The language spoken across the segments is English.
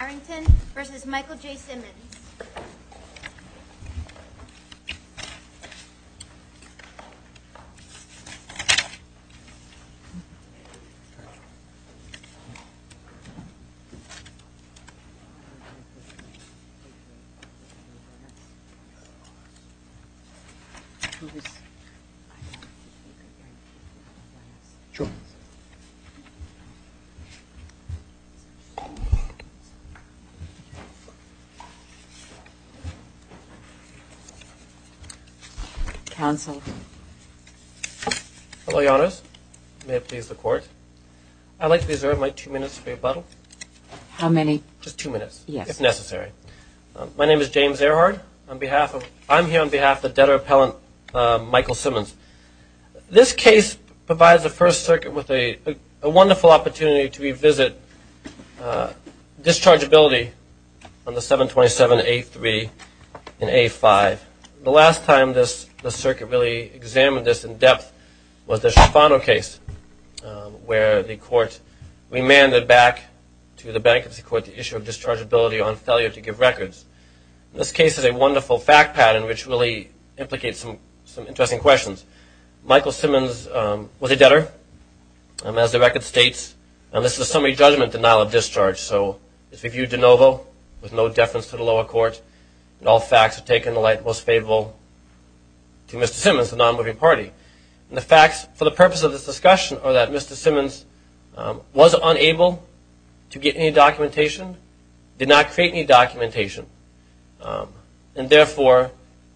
Harrington v. Michael J. Simmons James Earhardt, Debtor Appellant Michael Simmons Michael Simmons was a debtor, as the record states, and this is a summary judgment denial of discharge. So it's reviewed de novo, with no deference to the lower court. And all facts are taken in the light that was favorable to Mr. Simmons, the non-moving party. And the facts for the purpose of this discussion are that Mr. Simmons was unable to get any documentation, did not create any documentation. And therefore,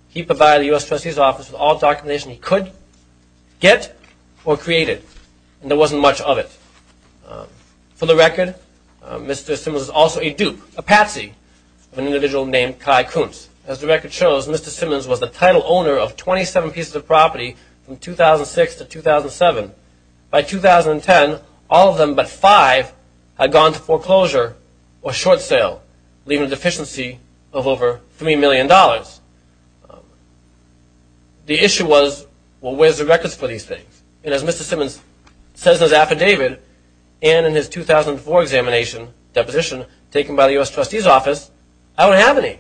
he provided the U.S. Trustee's Office with all documentation he could get or create it. And there wasn't much of it. For the record, Mr. Simmons was also a dupe, a patsy, of an individual named Kai Kuntz. As the record shows, Mr. Simmons was the title owner of 27 pieces of property from 2006 to 2007. By 2010, all of them but five had gone to foreclosure or short sale, leaving a deficiency of over $3 million. The issue was, well, where's the records for these things? And as Mr. Simmons says in his affidavit and in his 2004 examination deposition taken by the U.S. Trustee's Office, I don't have any.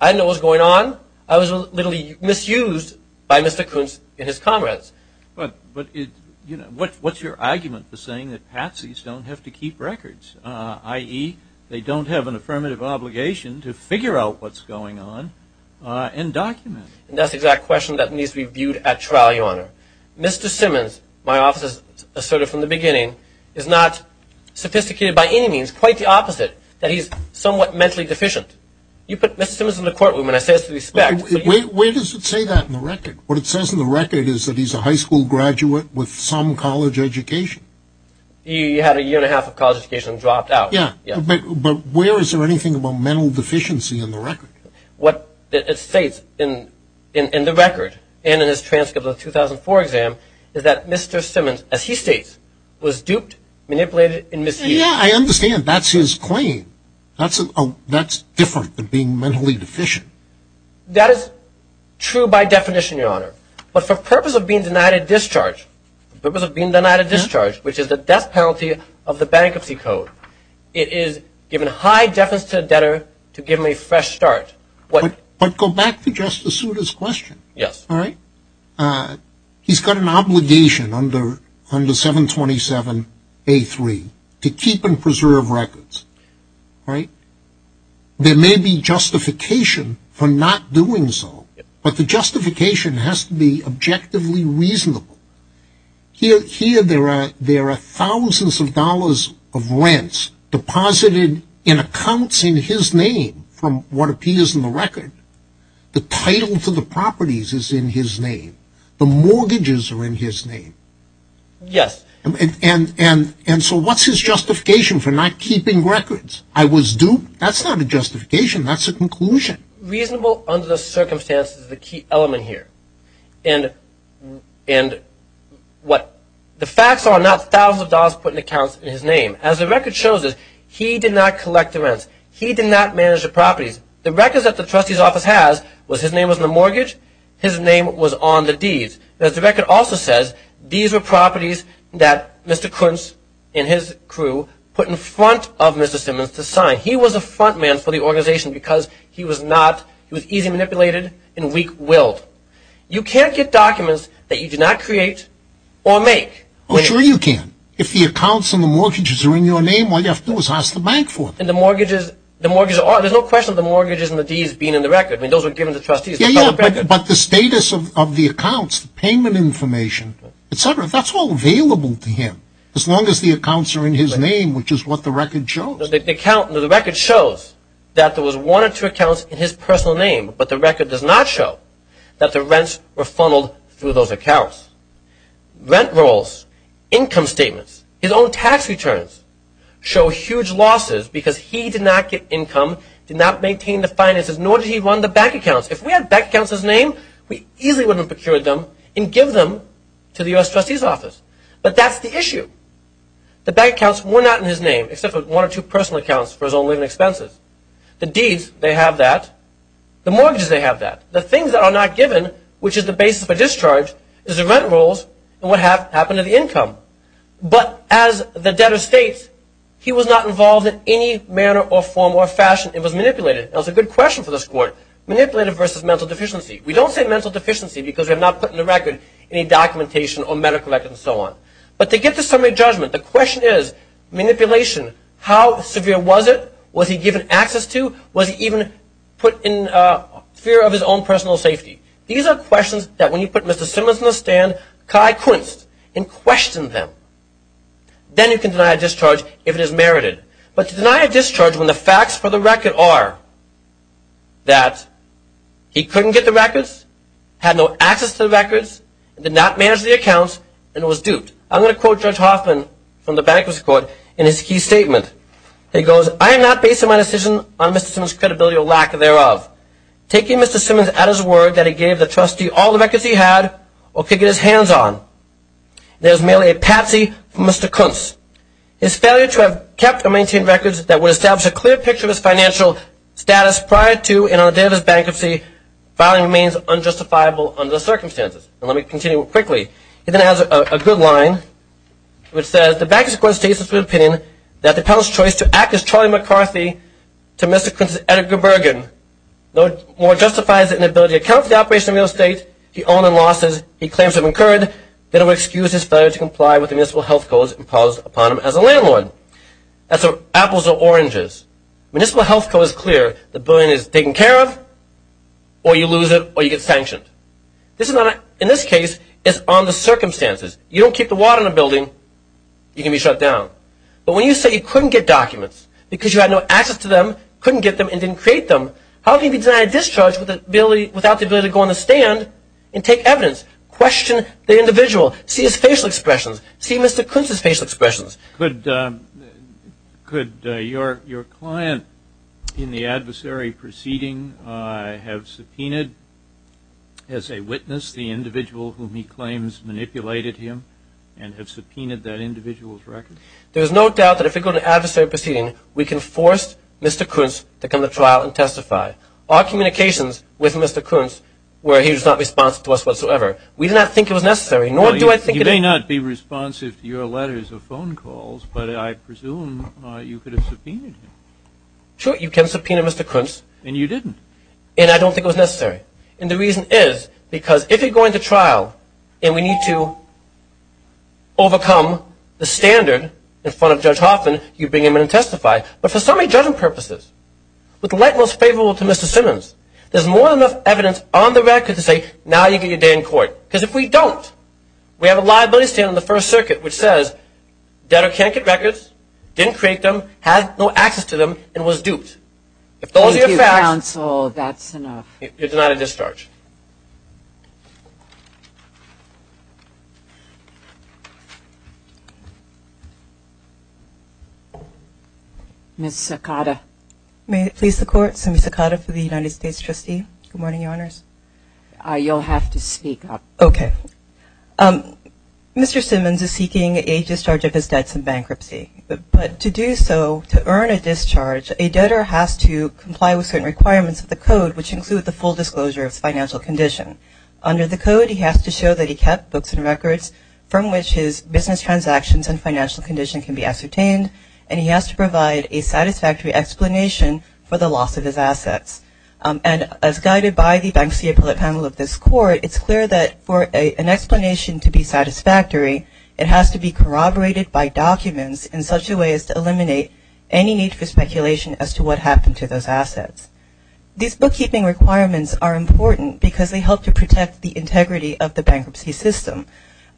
I didn't know what was going on. I was literally misused by Mr. Kuntz and his comrades. But what's your argument for saying that patsies don't have to keep records, i.e., they don't have an affirmative obligation to figure out what's going on and document it? That's the exact question that needs to be viewed at trial, Your Honor. Mr. Simmons, my office has asserted from the beginning, is not sophisticated by any means, quite the opposite, that he's somewhat mentally deficient. You put Mr. Simmons in the courtroom and I say this with respect. Wait, where does it say that in the record? What it says in the record is that he's a high school graduate with some college education. He had a year and a half of college education and dropped out. Yeah. But where is there anything about mental deficiency in the record? What it states in the record and in his transcript of the 2004 exam is that Mr. Simmons, as he states, was duped, manipulated, and misused. Yeah, I understand. That's his claim. That's different than being mentally deficient. That is true by definition, Your Honor. But for purpose of being denied a discharge, which is the death penalty of the Bankruptcy Code, it is giving high defense to a debtor to give him a fresh start. But go back to Justice Souter's question. Yes. All right? He's got an obligation under 727A3 to keep and preserve records, right? There may be justification for not doing so, but the justification has to be objectively reasonable. Here there are thousands of dollars of rents deposited in accounts in his name from what appears in the record. The title to the properties is in his name. The mortgages are in his name. Yes. And so what's his justification for not keeping records? I was duped? That's not a justification. That's a conclusion. Reasonable under the circumstances is the key element here. And what the facts are, not thousands of dollars put in accounts in his name. As the record shows us, he did not collect the rents. He did not manage the properties. The records that the trustee's office has was his name was in the mortgage. His name was on the deeds. As the record also says, these were properties that Mr. Kuntz and his crew put in front of Mr. Simmons to sign. He was a front man for the organization because he was easy manipulated and weak-willed. You can't get documents that you did not create or make. Oh, sure you can. If the accounts and the mortgages are in your name, all you have to do is ask the bank for them. And the mortgages are. There's no question of the mortgages and the deeds being in the record. I mean, those were given to trustees. But the status of the accounts, payment information, etc., that's all available to him. As long as the accounts are in his name, which is what the record shows. The record shows that there was one or two accounts in his personal name, but the record does not show that the rents were funneled through those accounts. Rent rolls, income statements, his own tax returns show huge losses because he did not get income, did not maintain the finances, nor did he run the bank accounts. If we had bank accounts in his name, we easily would have procured them and give them to the U.S. trustee's office. But that's the issue. The bank accounts were not in his name, except for one or two personal accounts for his own living expenses. The deeds, they have that. The mortgages, they have that. The things that are not given, which is the basis for discharge, is the rent rolls and what happened to the income. But as the debtor states, he was not involved in any manner or form or fashion. It was manipulated. That was a good question for this court, manipulated versus mental deficiency. We don't say mental deficiency because we have not put in the record any documentation or medical record and so on. But to get to summary judgment, the question is, manipulation, how severe was it? Was he given access to? Was he even put in fear of his own personal safety? These are questions that when you put Mr. Simmons in the stand, Kai quenched and questioned them. Then you can deny a discharge if it is merited. But to deny a discharge when the facts for the record are that he couldn't get the records, had no access to the records, did not manage the accounts, and was duped. I'm going to quote Judge Hoffman from the bankers' court in his key statement. He goes, I am not based on my decision on Mr. Simmons' credibility or lack thereof. Taking Mr. Simmons at his word that he gave the trustee all the records he had, or could get his hands on, there is merely a patsy from Mr. Kuntz. His failure to have kept or maintained records that would establish a clear picture of his financial status prior to and on the day of his bankruptcy filing remains unjustifiable under the circumstances. And let me continue quickly. He then has a good line, which says, the bankers' court states its good opinion that the appellant's choice to act as Charlie McCarthy to Mr. Kuntz's Edgar Bergen no more justifies the inability to account for the operation of real estate he owned and losses he claims to have incurred than it would excuse his failure to comply with the municipal health codes imposed upon him as a landlord. That's apples or oranges. Municipal health code is clear. The building is taken care of, or you lose it, or you get sanctioned. In this case, it's on the circumstances. You don't keep the water in the building, you can be shut down. But when you say you couldn't get documents because you had no access to them, couldn't get them, and didn't create them, how can you deny a discharge without the ability to go on the stand and take evidence, question the individual, see his facial expressions, see Mr. Kuntz's facial expressions? Could your client in the adversary proceeding have subpoenaed as a witness the individual whom he claims manipulated him and have subpoenaed that individual's record? There's no doubt that if we go to an adversary proceeding, we can force Mr. Kuntz to come to trial and testify. Our communications with Mr. Kuntz were he was not responsive to us whatsoever. We did not think it was necessary, nor do I think it is. You may not be responsive to your letters or phone calls, but I presume you could have subpoenaed him. Sure, you can subpoena Mr. Kuntz. And you didn't. And I don't think it was necessary. And the reason is because if you're going to trial and we need to overcome the standard in front of Judge Hoffman, you bring him in and testify. But for summary judgment purposes, with the light most favorable to Mr. Simmons, there's more than enough evidence on the record to say, now you get your day in court. Because if we don't, we have a liability standard in the First Circuit which says, debtor can't get records, didn't create them, had no access to them, and was duped. If those are your facts. Thank you, counsel. That's enough. You're denied a discharge. Ms. Sakata. May it please the Court, Ms. Sakata for the United States Trustee. Good morning, Your Honors. You'll have to speak up. Okay. Mr. Simmons is seeking a discharge of his debts in bankruptcy. But to do so, to earn a discharge, a debtor has to comply with certain requirements of the Code, which include the full disclosure of his financial condition. Under the Code, he has to show that he kept books and records from which his business transactions and financial condition can be ascertained, and he has to provide a satisfactory explanation for the loss of his assets. And as guided by the Bankruptcy Appellate Panel of this Court, it's clear that for an explanation to be satisfactory, it has to be corroborated by documents in such a way as to eliminate any need for speculation as to what happened to those assets. These bookkeeping requirements are important because they help to protect the integrity of the bankruptcy system.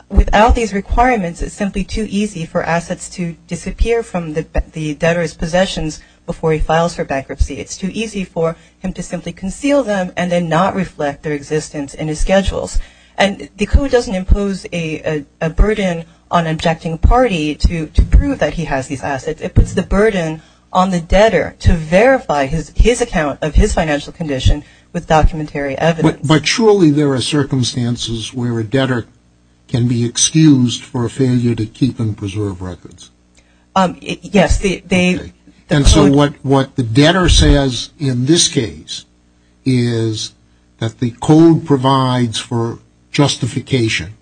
Without these requirements, it's simply too easy for assets to disappear from the debtor's possessions before he files for bankruptcy. It's too easy for him to simply conceal them and then not reflect their existence in his schedules. And the Code doesn't impose a burden on an objecting party to prove that he has these assets. It puts the burden on the debtor to verify his account of his financial condition with documentary evidence. But surely there are circumstances where a debtor can be excused for a failure to keep and preserve records. Yes. And so what the debtor says in this case is that the Code provides for justification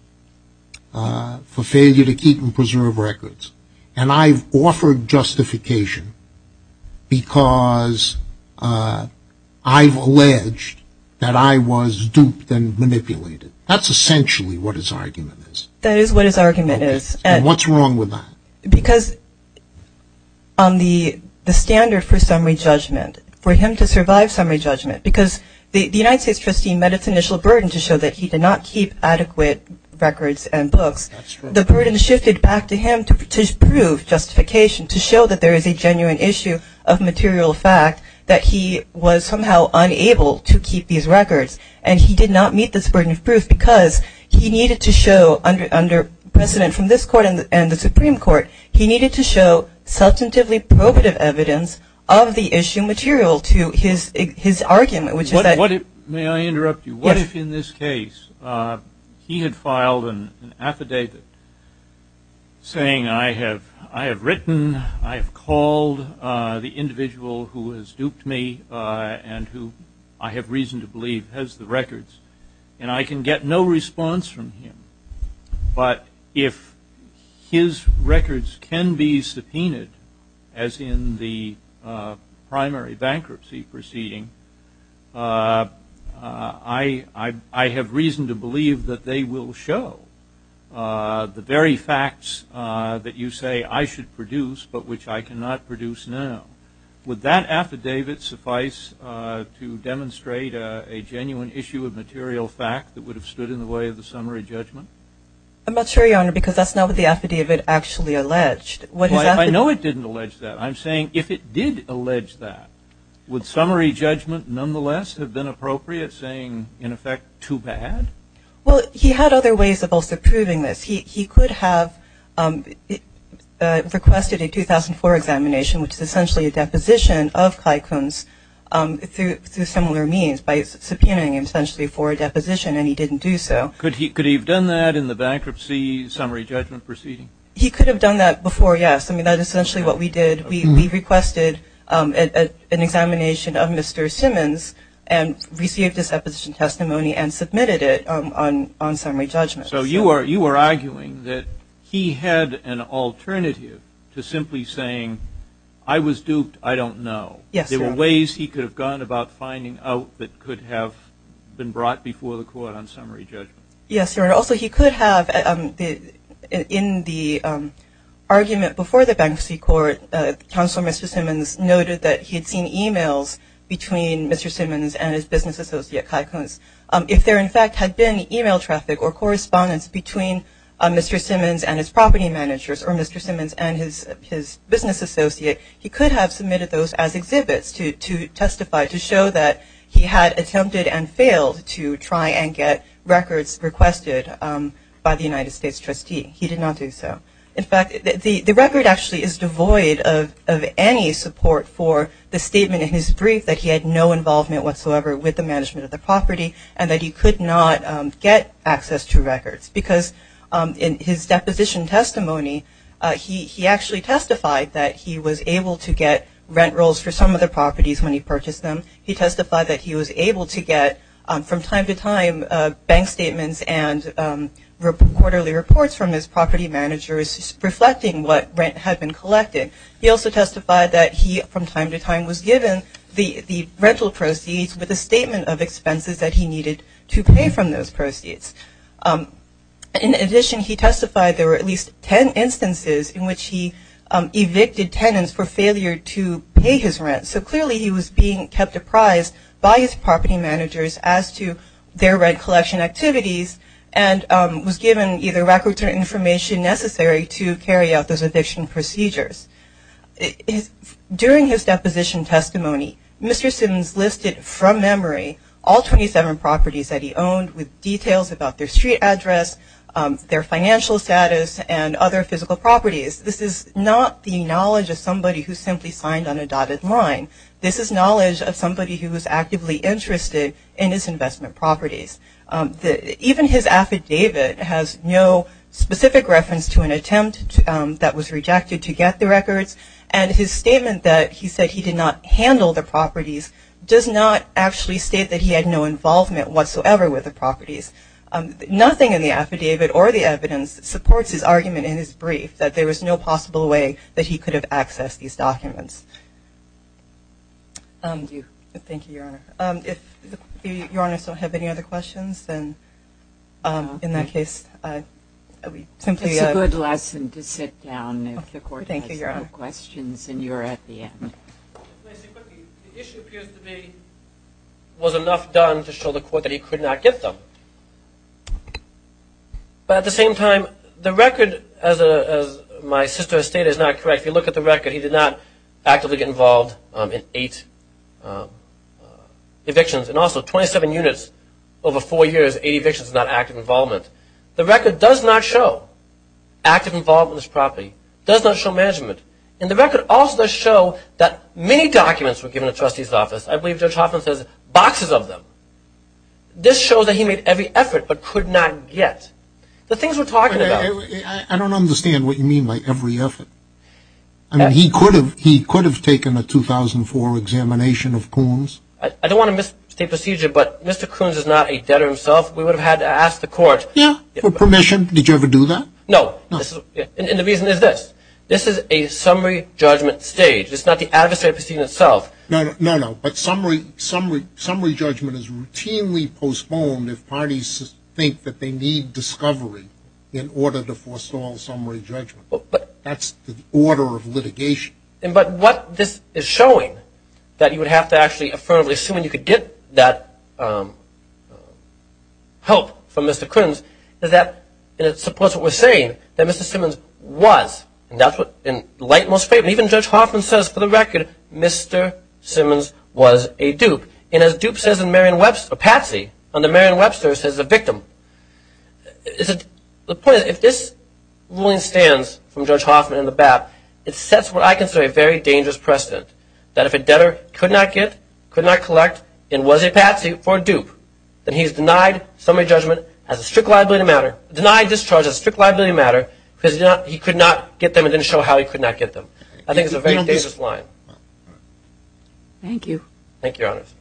for failure to keep and preserve records. And I've offered justification because I've alleged that I was duped and manipulated. That's essentially what his argument is. That is what his argument is. And what's wrong with that? Because on the standard for summary judgment, for him to survive summary judgment, because the United States trustee met its initial burden to show that he did not keep adequate records and books, the burden shifted back to him to prove justification, to show that there is a genuine issue of material fact that he was somehow unable to keep these records. And he did not meet this burden of proof because he needed to show, under precedent from this Court and the Supreme Court, he needed to show substantively probative evidence of the issue material to his argument. May I interrupt you? Yes. If in this case he had filed an affidavit saying, I have written, I have called the individual who has duped me and who I have reason to believe has the records, and I can get no response from him, but if his records can be subpoenaed, as in the primary bankruptcy proceeding, I have reason to believe that they will show the very facts that you say I should produce but which I cannot produce now, would that affidavit suffice to demonstrate a genuine issue of material fact that would have stood in the way of the summary judgment? I'm not sure, Your Honor, because that's not what the affidavit actually alleged. Well, I know it didn't allege that. I'm saying if it did allege that, would summary judgment nonetheless have been appropriate saying, in effect, too bad? Well, he had other ways of also proving this. He could have requested a 2004 examination, which is essentially a deposition of Clycombe's through similar means, by subpoenaing him essentially for a deposition, and he didn't do so. Could he have done that in the bankruptcy summary judgment proceeding? He could have done that before, yes. I mean, that's essentially what we did. We requested an examination of Mr. Simmons and received his deposition testimony and submitted it on summary judgment. So you are arguing that he had an alternative to simply saying, I was duped, I don't know. Yes, Your Honor. There were ways he could have gone about finding out that could have been brought before the court on summary judgment. Yes, Your Honor. But also he could have, in the argument before the bankruptcy court, Counselor Mr. Simmons noted that he had seen e-mails between Mr. Simmons and his business associate, Clycombe. If there, in fact, had been e-mail traffic or correspondence between Mr. Simmons and his property managers or Mr. Simmons and his business associate, he could have submitted those as exhibits to testify, to show that he had attempted and failed to try and get records requested by the United States trustee. He did not do so. In fact, the record actually is devoid of any support for the statement in his brief that he had no involvement whatsoever with the management of the property and that he could not get access to records. Because in his deposition testimony, he actually testified that he was able to get rent rolls for some of the properties when he purchased them. He testified that he was able to get, from time to time, bank statements and quarterly reports from his property managers reflecting what rent had been collected. He also testified that he, from time to time, was given the rental proceeds with a statement of expenses that he needed to pay from those proceeds. In addition, he testified there were at least 10 instances in which he evicted tenants for failure to pay his rent. So clearly, he was being kept apprised by his property managers as to their rent collection activities and was given either records or information necessary to carry out those eviction procedures. During his deposition testimony, Mr. Simmons listed, from memory, all 27 properties that he owned with details about their street address, their financial status, and other physical properties. This is not the knowledge of somebody who simply signed on a dotted line. This is knowledge of somebody who is actively interested in his investment properties. Even his affidavit has no specific reference to an attempt that was rejected to get the records. And his statement that he said he did not handle the properties does not actually state that he had no involvement whatsoever with the properties. Nothing in the affidavit or the evidence supports his argument in his brief that there was no possible way that he could have accessed these documents. Thank you, Your Honor. If Your Honor still have any other questions, then in that case, we simply It's a good lesson to sit down if the court has no questions and you're at the end. The issue appears to me was enough done to show the court that he could not get them. But at the same time, the record, as my sister has stated, is not correct. If you look at the record, he did not actively get involved in eight evictions and also 27 units over four years, 80 evictions, not active involvement. The record does not show active involvement in this property. It does not show management. And the record also does show that many documents were given to the trustee's office. I believe Judge Hoffman says boxes of them. This shows that he made every effort but could not get the things we're talking about. I don't understand what you mean by every effort. I mean, he could have taken a 2004 examination of Coons. I don't want to misstate procedure, but Mr. Coons is not a debtor himself. We would have had to ask the court. Yeah, for permission. Did you ever do that? No. And the reason is this. This is a summary judgment stage. It's not the adversary proceeding itself. No, no. But summary judgment is routinely postponed if parties think that they need discovery in order to forestall summary judgment. That's the order of litigation. But what this is showing, that you would have to actually affirm assuming you could get that help from Mr. Coons, is that it supports what we're saying, that Mr. Simmons was, and that's what in light and most faith, and even Judge Hoffman says for the record, Mr. Simmons was a dupe. And as dupe says in Marion Webster, Patsy, under Marion Webster, says the victim. The point is, if this ruling stands from Judge Hoffman and the BAP, it sets what I consider a very dangerous precedent, that if a debtor could not get, could not collect, and was a Patsy for a dupe, then he's denied summary judgment as a strict liability matter, denied discharge as a strict liability matter, because he could not get them and didn't show how he could not get them. I think it's a very dangerous line. Thank you. Thank you, Your Honors.